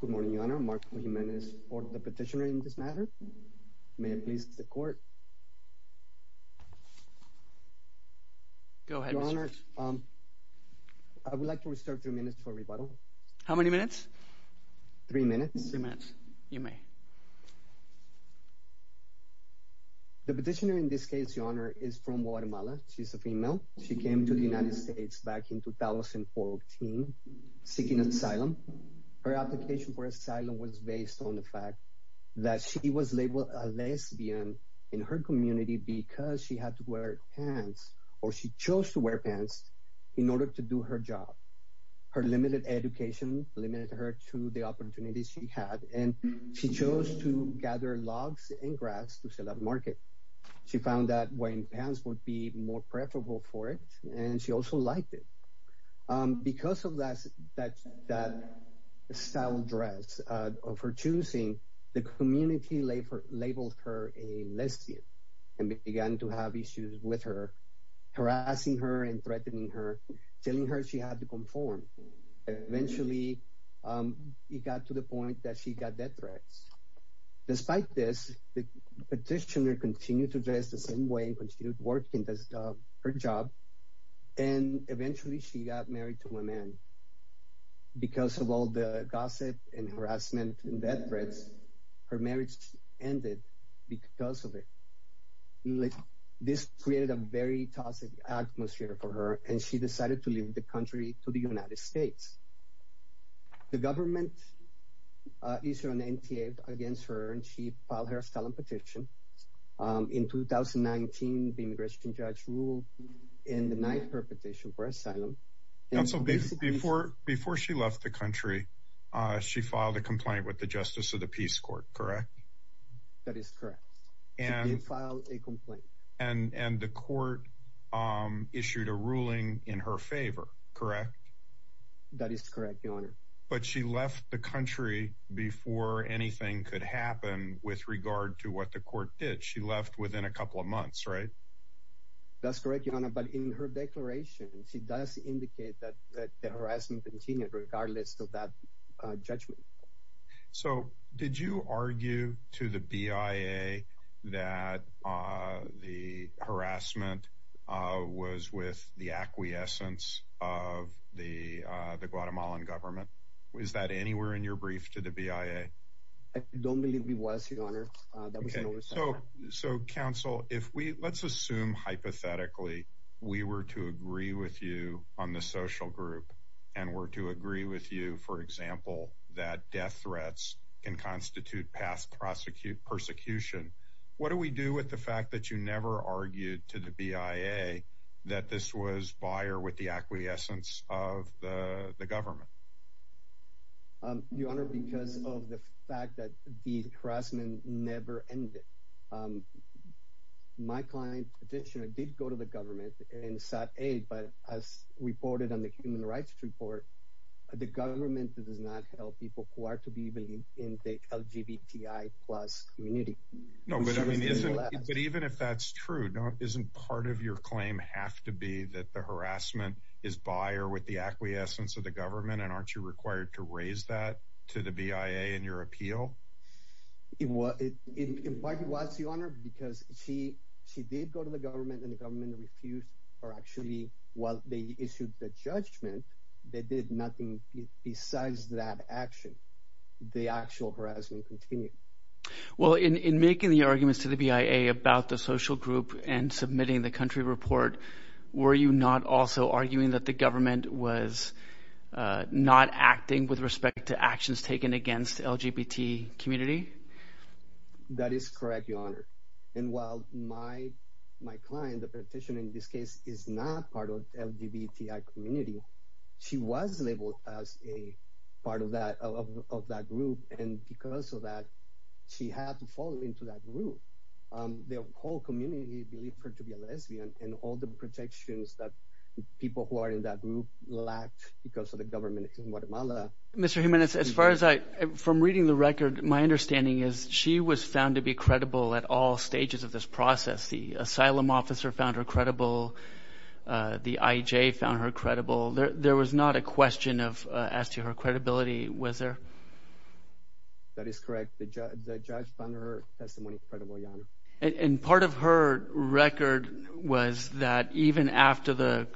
Good morning, Your Honor. Marco Jimenez for the petitioner in this matter. May it please the court? Go ahead, Mr. Cristobal. Your Honor, I would like to reserve three minutes for rebuttal. How many minutes? Three minutes. Three minutes. You may. The petitioner in this case, Your Honor, is from Guatemala. She's a female. She came to the United States back in 2014 seeking asylum. Her application for asylum was based on the fact that she was labeled a lesbian in her community because she had to wear pants, or she chose to wear pants, in order to do her job. Her limited education limited her to the opportunities she had, and she chose to gather logs and grass to sell at the market. She found that wearing pants would be more preferable for it, and she also liked it. Because of that style dress of her choosing, the community labeled her a lesbian and began to have issues with her, harassing her and threatening her, telling her she had to conform. Eventually, it got to the point that she got death threats. Despite this, the petitioner continued to dress the same way and continued working her job, and eventually she got married to a man. Because of all the gossip and harassment and death threats, her marriage ended because of it. This created a very toxic atmosphere for her, and she decided to leave the country to the United States. The government issued an NTA against her, and she filed her asylum petition. In 2019, the immigration judge ruled and denied her petition for asylum. Before she left the country, she filed a complaint with the Justice of the Peace Court, correct? That is correct. She did file a complaint. And the court issued a ruling in her favor, correct? That is correct, Your Honor. But she left the country before anything could happen with regard to what the court did. She left within a couple of months, right? That's correct, Your Honor, but in her declaration, she does indicate that the harassment continued regardless of that judgment. So, did you argue to the BIA that the harassment was with the acquiescence of the Guatemalan government? Is that anywhere in your brief to the BIA? I don't believe it was, Your Honor. So, counsel, let's assume hypothetically we were to agree with you on the social group, and were to agree with you, for example, that death threats can constitute past persecution. What do we do with the fact that you never argued to the BIA that this was via with the acquiescence of the government? Your Honor, because of the fact that the harassment never ended. My client petitioner did go to the government and sought aid, but as reported on the Human Rights Report, the government does not help people who are to be believed in the LGBTI plus community. But even if that's true, isn't part of your claim have to be that the harassment is by or with the acquiescence of the government, and aren't you required to raise that to the BIA in your appeal? It was, Your Honor, because she did go to the government, and the government refused her. Actually, while they issued the judgment, they did nothing besides that action. The actual harassment continued. Well, in making the arguments to the BIA about the social group and submitting the country report, were you not also arguing that the government was not acting with respect to actions taken against the LGBT community? That is correct, Your Honor. And while my client, the petitioner in this case, is not part of the LGBTI community, she was labeled as a part of that group, and because of that, she had to fall into that group. The whole community believed her to be a lesbian, and all the protections that people who are in that group lacked because of the government in Guatemala. Mr. Jiménez, as far as I – from reading the record, my understanding is she was found to be credible at all stages of this process. The asylum officer found her credible. The IEJ found her credible. There was not a question of – as to her credibility, was there? That is correct. The judge found her testimony credible, Your Honor. And part of her record was that even after the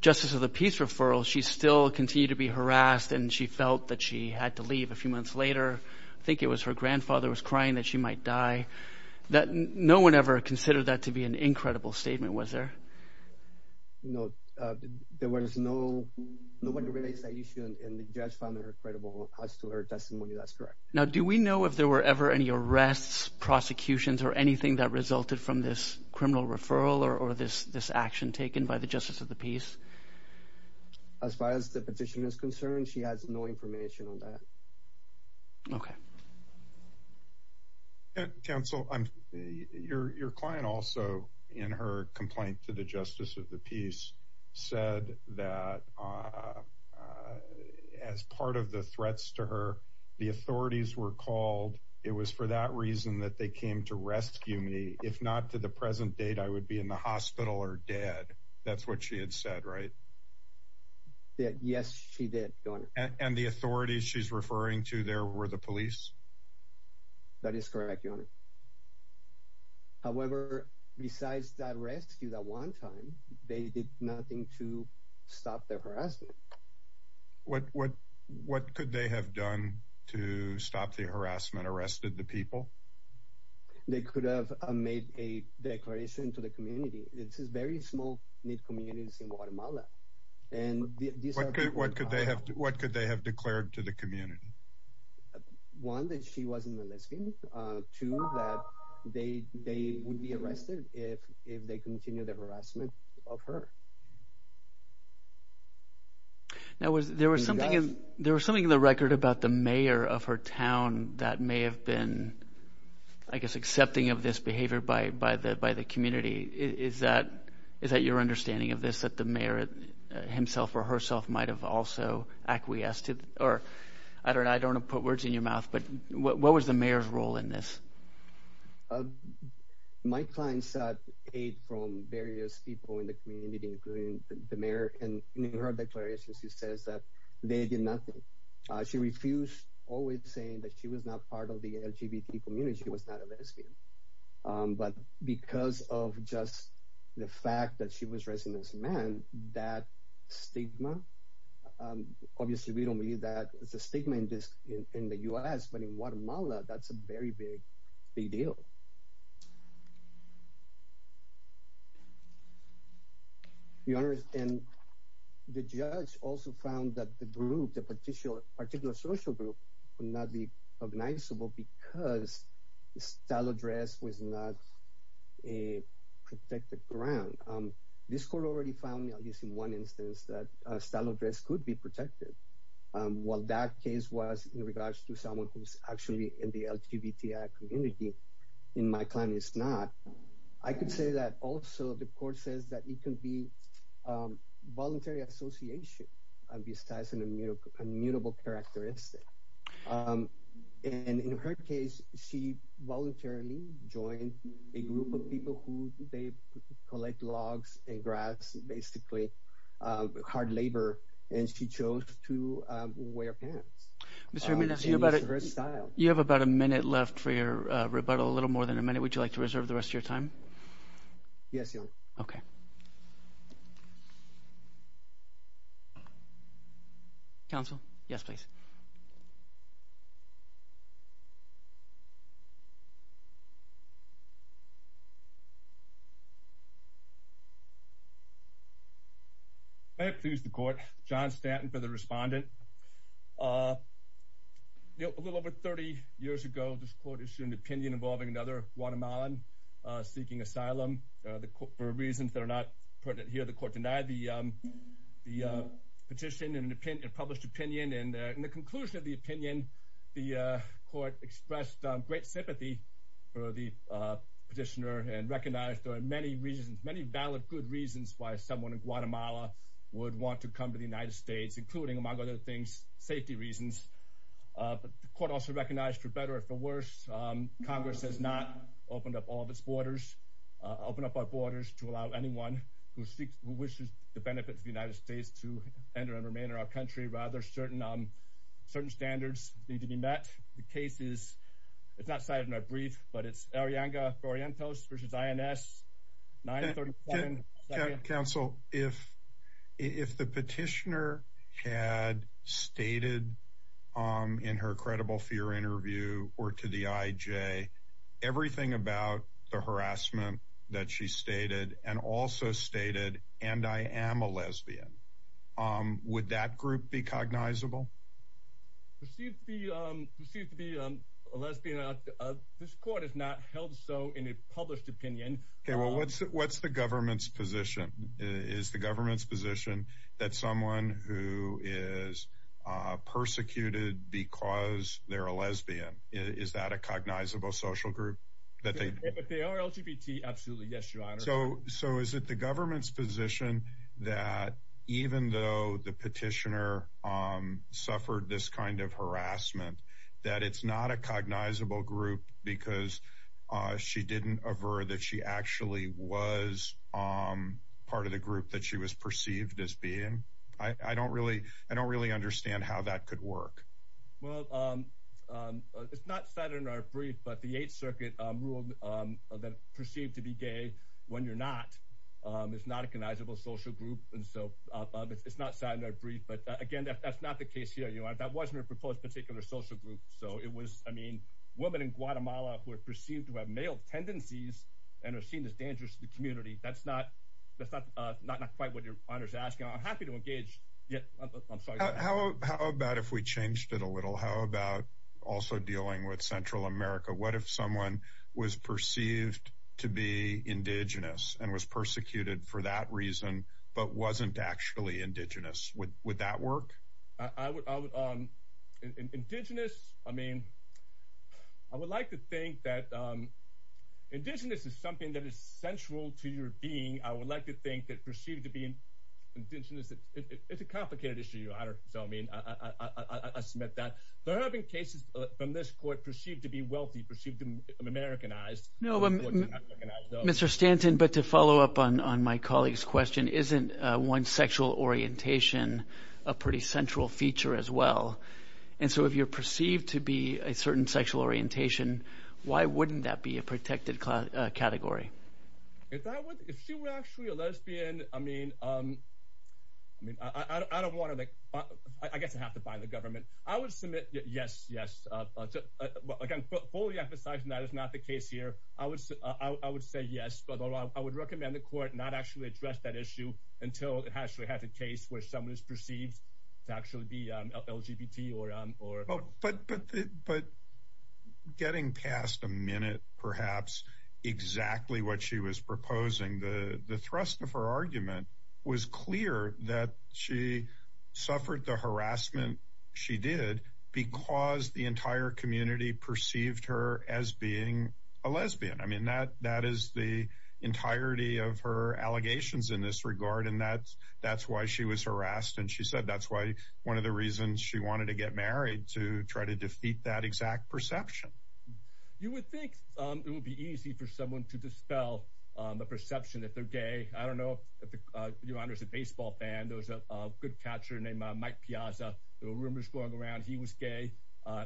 justice of the peace referral, she still continued to be harassed, and she felt that she had to leave a few months later. I think it was her grandfather was crying that she might die. No one ever considered that to be an incredible statement, was there? No. There was no – nobody raised that issue, and the judge found her credible. As to her testimony, that's correct. Now, do we know if there were ever any arrests, prosecutions, or anything that resulted from this criminal referral or this action taken by the justice of the peace? As far as the petitioner is concerned, she has no information on that. Okay. Counsel, your client also, in her complaint to the justice of the peace, said that as part of the threats to her, the authorities were called. It was for that reason that they came to rescue me. If not to the present date, I would be in the hospital or dead. That's what she had said, right? Yes, she did, Your Honor. And the authorities she's referring to there were the police? That is correct, Your Honor. However, besides that rescue that one time, they did nothing to stop the harassment. What could they have done to stop the harassment, arrested the people? They could have made a declaration to the community. This is very small, neat communities in Guatemala. What could they have declared to the community? One, that she wasn't a lesbian. Two, that they would be arrested if they continued the harassment of her. Now, there was something in the record about the mayor of her town that may have been, I guess, accepting of this behavior by the community. Is that your understanding of this, that the mayor himself or herself might have also acquiesced? I don't want to put words in your mouth, but what was the mayor's role in this? My client sought aid from various people in the community, including the mayor. In her declaration, she says that they did nothing. She refused, always saying that she was not part of the LGBT community, she was not a lesbian. But because of just the fact that she was raising this man, that stigma, obviously, we don't believe that it's a stigma in the U.S., but in Guatemala, that's a very big deal. The judge also found that the group, the particular social group, would not be recognizable because the style of dress was not a protected ground. This court already found, in one instance, that style of dress could be protected. While that case was in regards to someone who's actually in the LGBTI community, in my client, it's not. I could say that also the court says that it could be voluntary association, besides an immutable characteristic. In her case, she voluntarily joined a group of people who collect logs and grass, basically hard labor, and she chose to wear pants. You have about a minute left for your rebuttal, a little more than a minute. Would you like to reserve the rest of your time? Yes, Your Honor. Okay. Counsel, yes, please. May I please the court? John Stanton for the respondent. A little over 30 years ago, this court issued an opinion involving another Guatemalan seeking asylum. For reasons that are not pertinent here, the court denied the petition and published opinion. In the conclusion of the opinion, the court expressed great sympathy for the petitioner and recognized there are many valid good reasons why someone in Guatemala would want to come to the United States, including, among other things, safety reasons. The court also recognized, for better or for worse, Congress has not opened up all of its borders, opened up our borders to allow anyone who wishes the benefits of the United States to enter and remain in our country. Rather, certain standards need to be met. The case is, it's not cited in our brief, but it's Arriaga-Orientos v. INS, 937. Counsel, if the petitioner had stated in her credible fear interview or to the IJ everything about the harassment that she stated and also stated, and I am a lesbian, would that group be cognizable? Proceed to be a lesbian, this court has not held so in a published opinion. Well, what's the government's position? Is the government's position that someone who is persecuted because they're a lesbian, is that a cognizable social group? If they are LGBT, absolutely, yes, your honor. So is it the government's position that even though the petitioner suffered this kind of harassment, that it's not a cognizable group because she didn't aver that she actually was part of the group that she was perceived as being? I don't really, I don't really understand how that could work. Well, it's not cited in our brief, but the Eighth Circuit ruled that perceived to be gay when you're not, it's not a cognizable social group. It's not cited in our brief, but again, that's not the case here. That wasn't a proposed particular social group. So it was, I mean, women in Guatemala who are perceived to have male tendencies and are seen as dangerous to the community. That's not quite what your honor is asking. I'm happy to engage. How about if we changed it a little? How about also dealing with Central America? What if someone was perceived to be indigenous and was persecuted for that reason, but wasn't actually indigenous? Would that work? Indigenous, I mean, I would like to think that indigenous is something that is central to your being. I would like to think that perceived to be indigenous, it's a complicated issue, your honor. So, I mean, I submit that. There have been cases from this court perceived to be wealthy, perceived to be Americanized. Mr. Stanton, but to follow up on my colleague's question, isn't one's sexual orientation a pretty central feature as well? And so if you're perceived to be a certain sexual orientation, why wouldn't that be a protected category? If she were actually a lesbian, I mean, I don't want to, I guess I have to buy the government. I would submit yes, yes. Again, fully emphasizing that is not the case here. I would say yes, but I would recommend the court not actually address that issue until it actually has a case where someone is perceived to actually be LGBT or. But getting past a minute, perhaps exactly what she was proposing, the thrust of her argument was clear that she suffered the harassment she did because the entire community perceived her as being a lesbian. I mean, that is the entirety of her allegations in this regard. And that's that's why she was harassed. And she said that's why one of the reasons she wanted to get married to try to defeat that exact perception. You would think it would be easy for someone to dispel the perception that they're gay. I don't know if your honor is a baseball fan. There was a good catcher named Mike Piazza. There were rumors going around. He was gay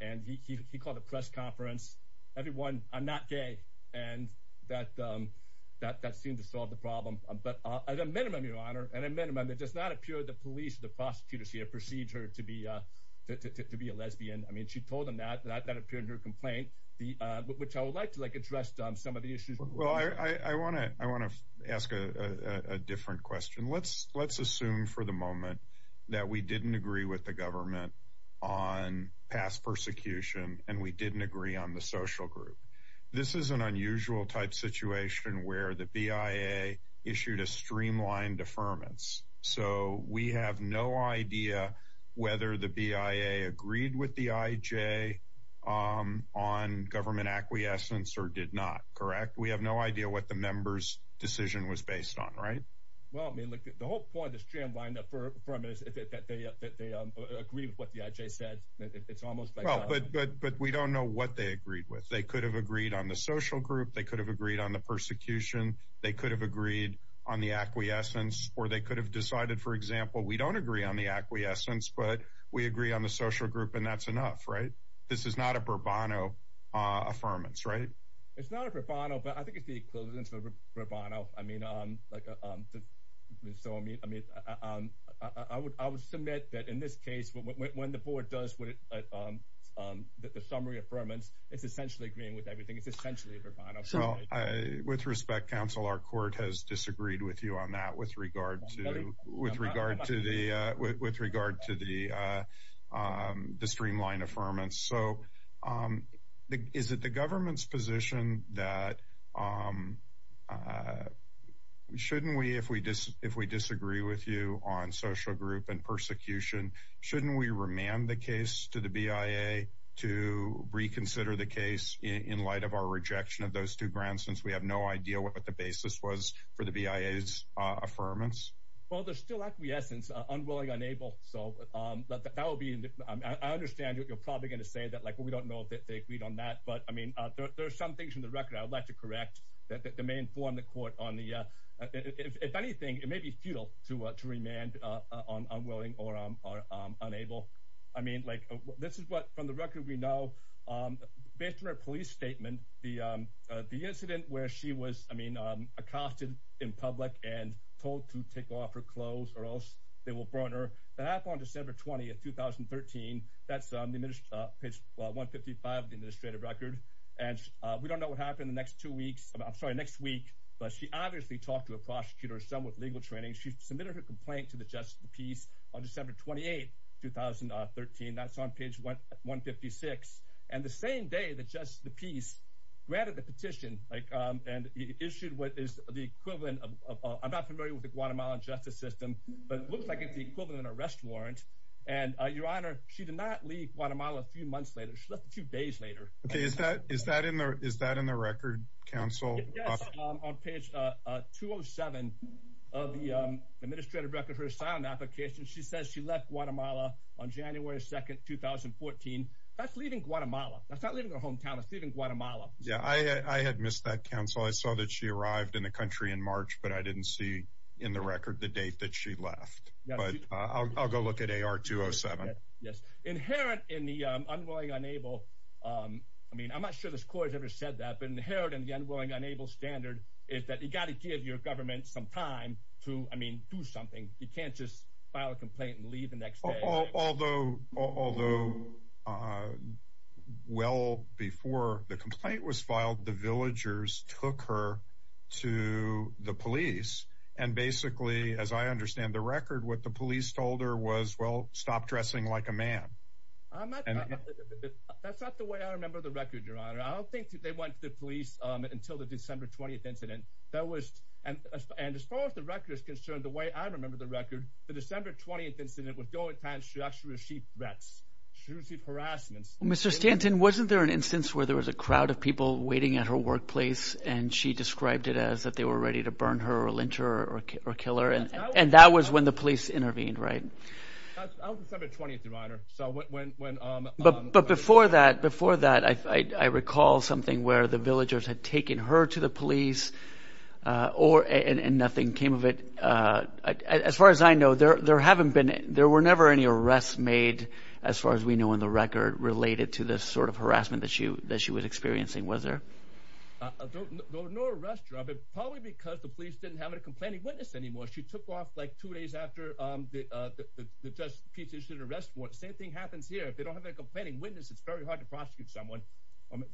and he called a press conference. Everyone, I'm not gay. And that that that seemed to solve the problem. But at a minimum, your honor, and a minimum that does not appear the police, the prosecutors here perceived her to be to be a lesbian. I mean, she told him that that appeared in her complaint, which I would like to address some of the issues. Well, I want to I want to ask a different question. Let's let's assume for the moment that we didn't agree with the government on past persecution and we didn't agree on the social group. This is an unusual type situation where the BIA issued a streamlined deferments. So we have no idea whether the BIA agreed with the IJ on government acquiescence or did not. Correct. We have no idea what the members decision was based on. Right. Well, I mean, the whole point is Jim lined up for that. They agree with what the IJ said. It's almost like. But we don't know what they agreed with. They could have agreed on the social group. They could have agreed on the persecution. They could have agreed on the acquiescence or they could have decided, for example, we don't agree on the acquiescence, but we agree on the social group. And that's enough. Right. This is not a bravado affirmance. Right. It's not a bravado, but I think it's the equivalent of bravado. So, I mean, I mean, I would I would submit that in this case, when the board does what the summary affirmance, it's essentially agreeing with everything. It's essentially bravado. So with respect, counsel, our court has disagreed with you on that with regard to with regard to the with regard to the the streamline affirmance. So is it the government's position that we shouldn't we if we just if we disagree with you on social group and persecution? Shouldn't we remand the case to the BIA to reconsider the case in light of our rejection of those two grants? Since we have no idea what the basis was for the BIA's affirmance? Well, there's still acquiescence unwilling, unable. So that will be I understand you're probably going to say that, like, well, we don't know if they agreed on that. But, I mean, there are some things in the record I would like to correct that may inform the court on the if anything, it may be futile to remand on unwilling or unable. I mean, like this is what from the record we know based on a police statement, the incident where she was, I mean, she was told to take off her clothes or else they will burn her. The half on December 20th, 2013. That's on the page 155 of the administrative record. And we don't know what happened the next two weeks. I'm sorry, next week. But she obviously talked to a prosecutor, some with legal training. She submitted her complaint to the Justice of the Peace on December 28th, 2013. That's on page 156. And the same day, the Justice of the Peace granted the petition and issued what is the equivalent of. I'm not familiar with the Guatemalan justice system, but it looks like it's the equivalent of an arrest warrant. And your honor, she did not leave Guatemala a few months later. She left two days later. Is that is that in there? Is that in the record? Counsel on page 207 of the administrative record, her asylum application. She says she left Guatemala on January 2nd, 2014. That's leaving Guatemala. That's not leaving her hometown of Guatemala. Yeah, I had missed that council. I saw that she arrived in the country in March, but I didn't see in the record the date that she left. But I'll go look at a R207. Yes. Inherent in the unwilling, unable. I mean, I'm not sure this court has ever said that. But inherent in the unwilling, unable standard is that you've got to give your government some time to, I mean, do something. You can't just file a complaint and leave the next day. Although although well before the complaint was filed, the villagers took her to the police. And basically, as I understand the record, what the police told her was, well, stop dressing like a man. And that's not the way I remember the record, your honor. I don't think they went to the police until the December 20th incident. That was. And as far as the record is concerned, the way I remember the record, the December 20th incident would go at times she actually received threats. She received harassment. Mr. Stanton, wasn't there an instance where there was a crowd of people waiting at her workplace and she described it as that they were ready to burn her or lynch her or kill her? And that was when the police intervened. Right. That was December 20th, your honor. So when. But but before that, before that, I recall something where the villagers had taken her to the police or and nothing came of it. As far as I know, there there haven't been there were never any arrests made. As far as we know in the record related to this sort of harassment that she that she was experiencing. Was there no arrest? Probably because the police didn't have a complaining witness anymore. She took off like two days after the judge petitioned arrest. What same thing happens here? If they don't have a complaining witness, it's very hard to prosecute someone.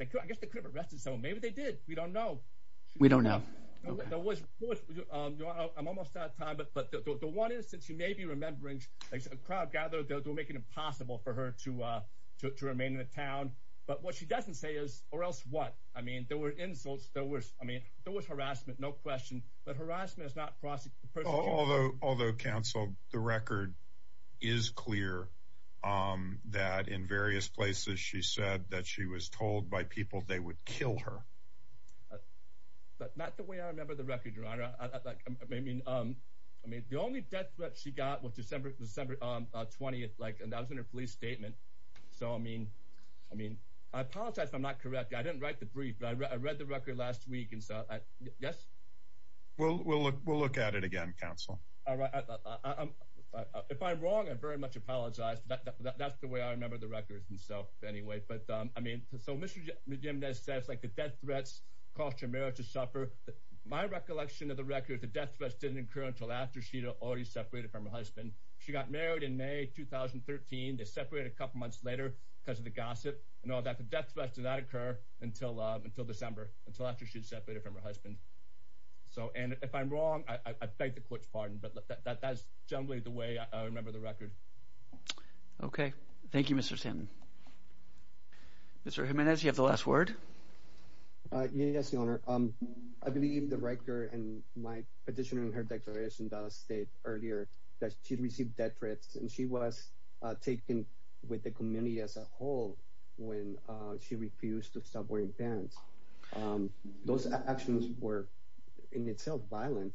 I guess they could have arrested someone. Maybe they did. We don't know. We don't know. I'm almost out of time. But the one is that you may be remembering a crowd gathered to make it impossible for her to remain in the town. But what she doesn't say is or else what? I mean, there were insults. There was I mean, there was harassment. No question. But harassment is not prosecute. Although although counsel, the record is clear that in various places she said that she was told by people they would kill her. But not the way I remember the record. I mean, I mean, the only death that she got was December, December 20th. Like I was in a police statement. So, I mean, I mean, I apologize if I'm not correct. I didn't write the brief, but I read the record last week. And so, yes. Well, we'll look we'll look at it again, counsel. All right. If I'm wrong, I very much apologize. That's the way I remember the record. And so anyway, but I mean, so Mr. Jim says, like the death threats cost your marriage to suffer. My recollection of the record, the death threats didn't occur until after she'd already separated from her husband. She got married in May 2013. They separated a couple months later because of the gossip and all that. The death threats did not occur until until December, until after she separated from her husband. So and if I'm wrong, I beg the court's pardon. But that's generally the way I remember the record. OK. Thank you, Mr. Tim. Mr. Jimenez, you have the last word. Yes, your honor. I believe the record and my petitioning her declaration does state earlier that she'd received death threats. And she was taken with the community as a whole when she refused to stop wearing pants. Those actions were in itself violent.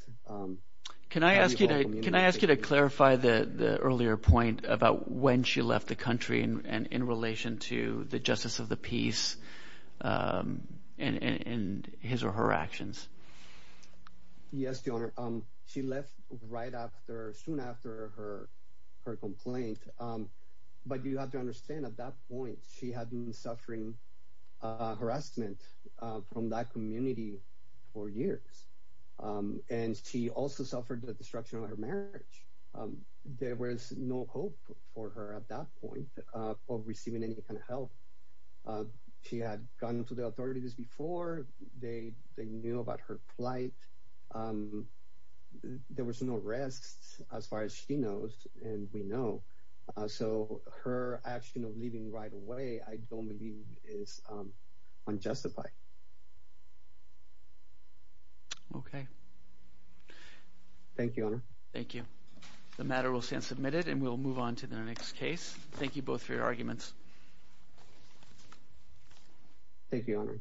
Can I ask you to can I ask you to clarify the earlier point about when she left the country and in relation to the justice of the peace and his or her actions? Yes, your honor. She left right after soon after her her complaint. But you have to understand at that point she had been suffering harassment from that community for years. And she also suffered the destruction of her marriage. There was no hope for her at that point of receiving any kind of help. She had gone to the authorities before they they knew about her plight. There was no arrests as far as she knows. And we know. So her action of leaving right away, I don't believe is unjustified. Okay. Thank you. Thank you. The matter will stand submitted and we'll move on to the next case. Thank you both for your arguments. Thank you.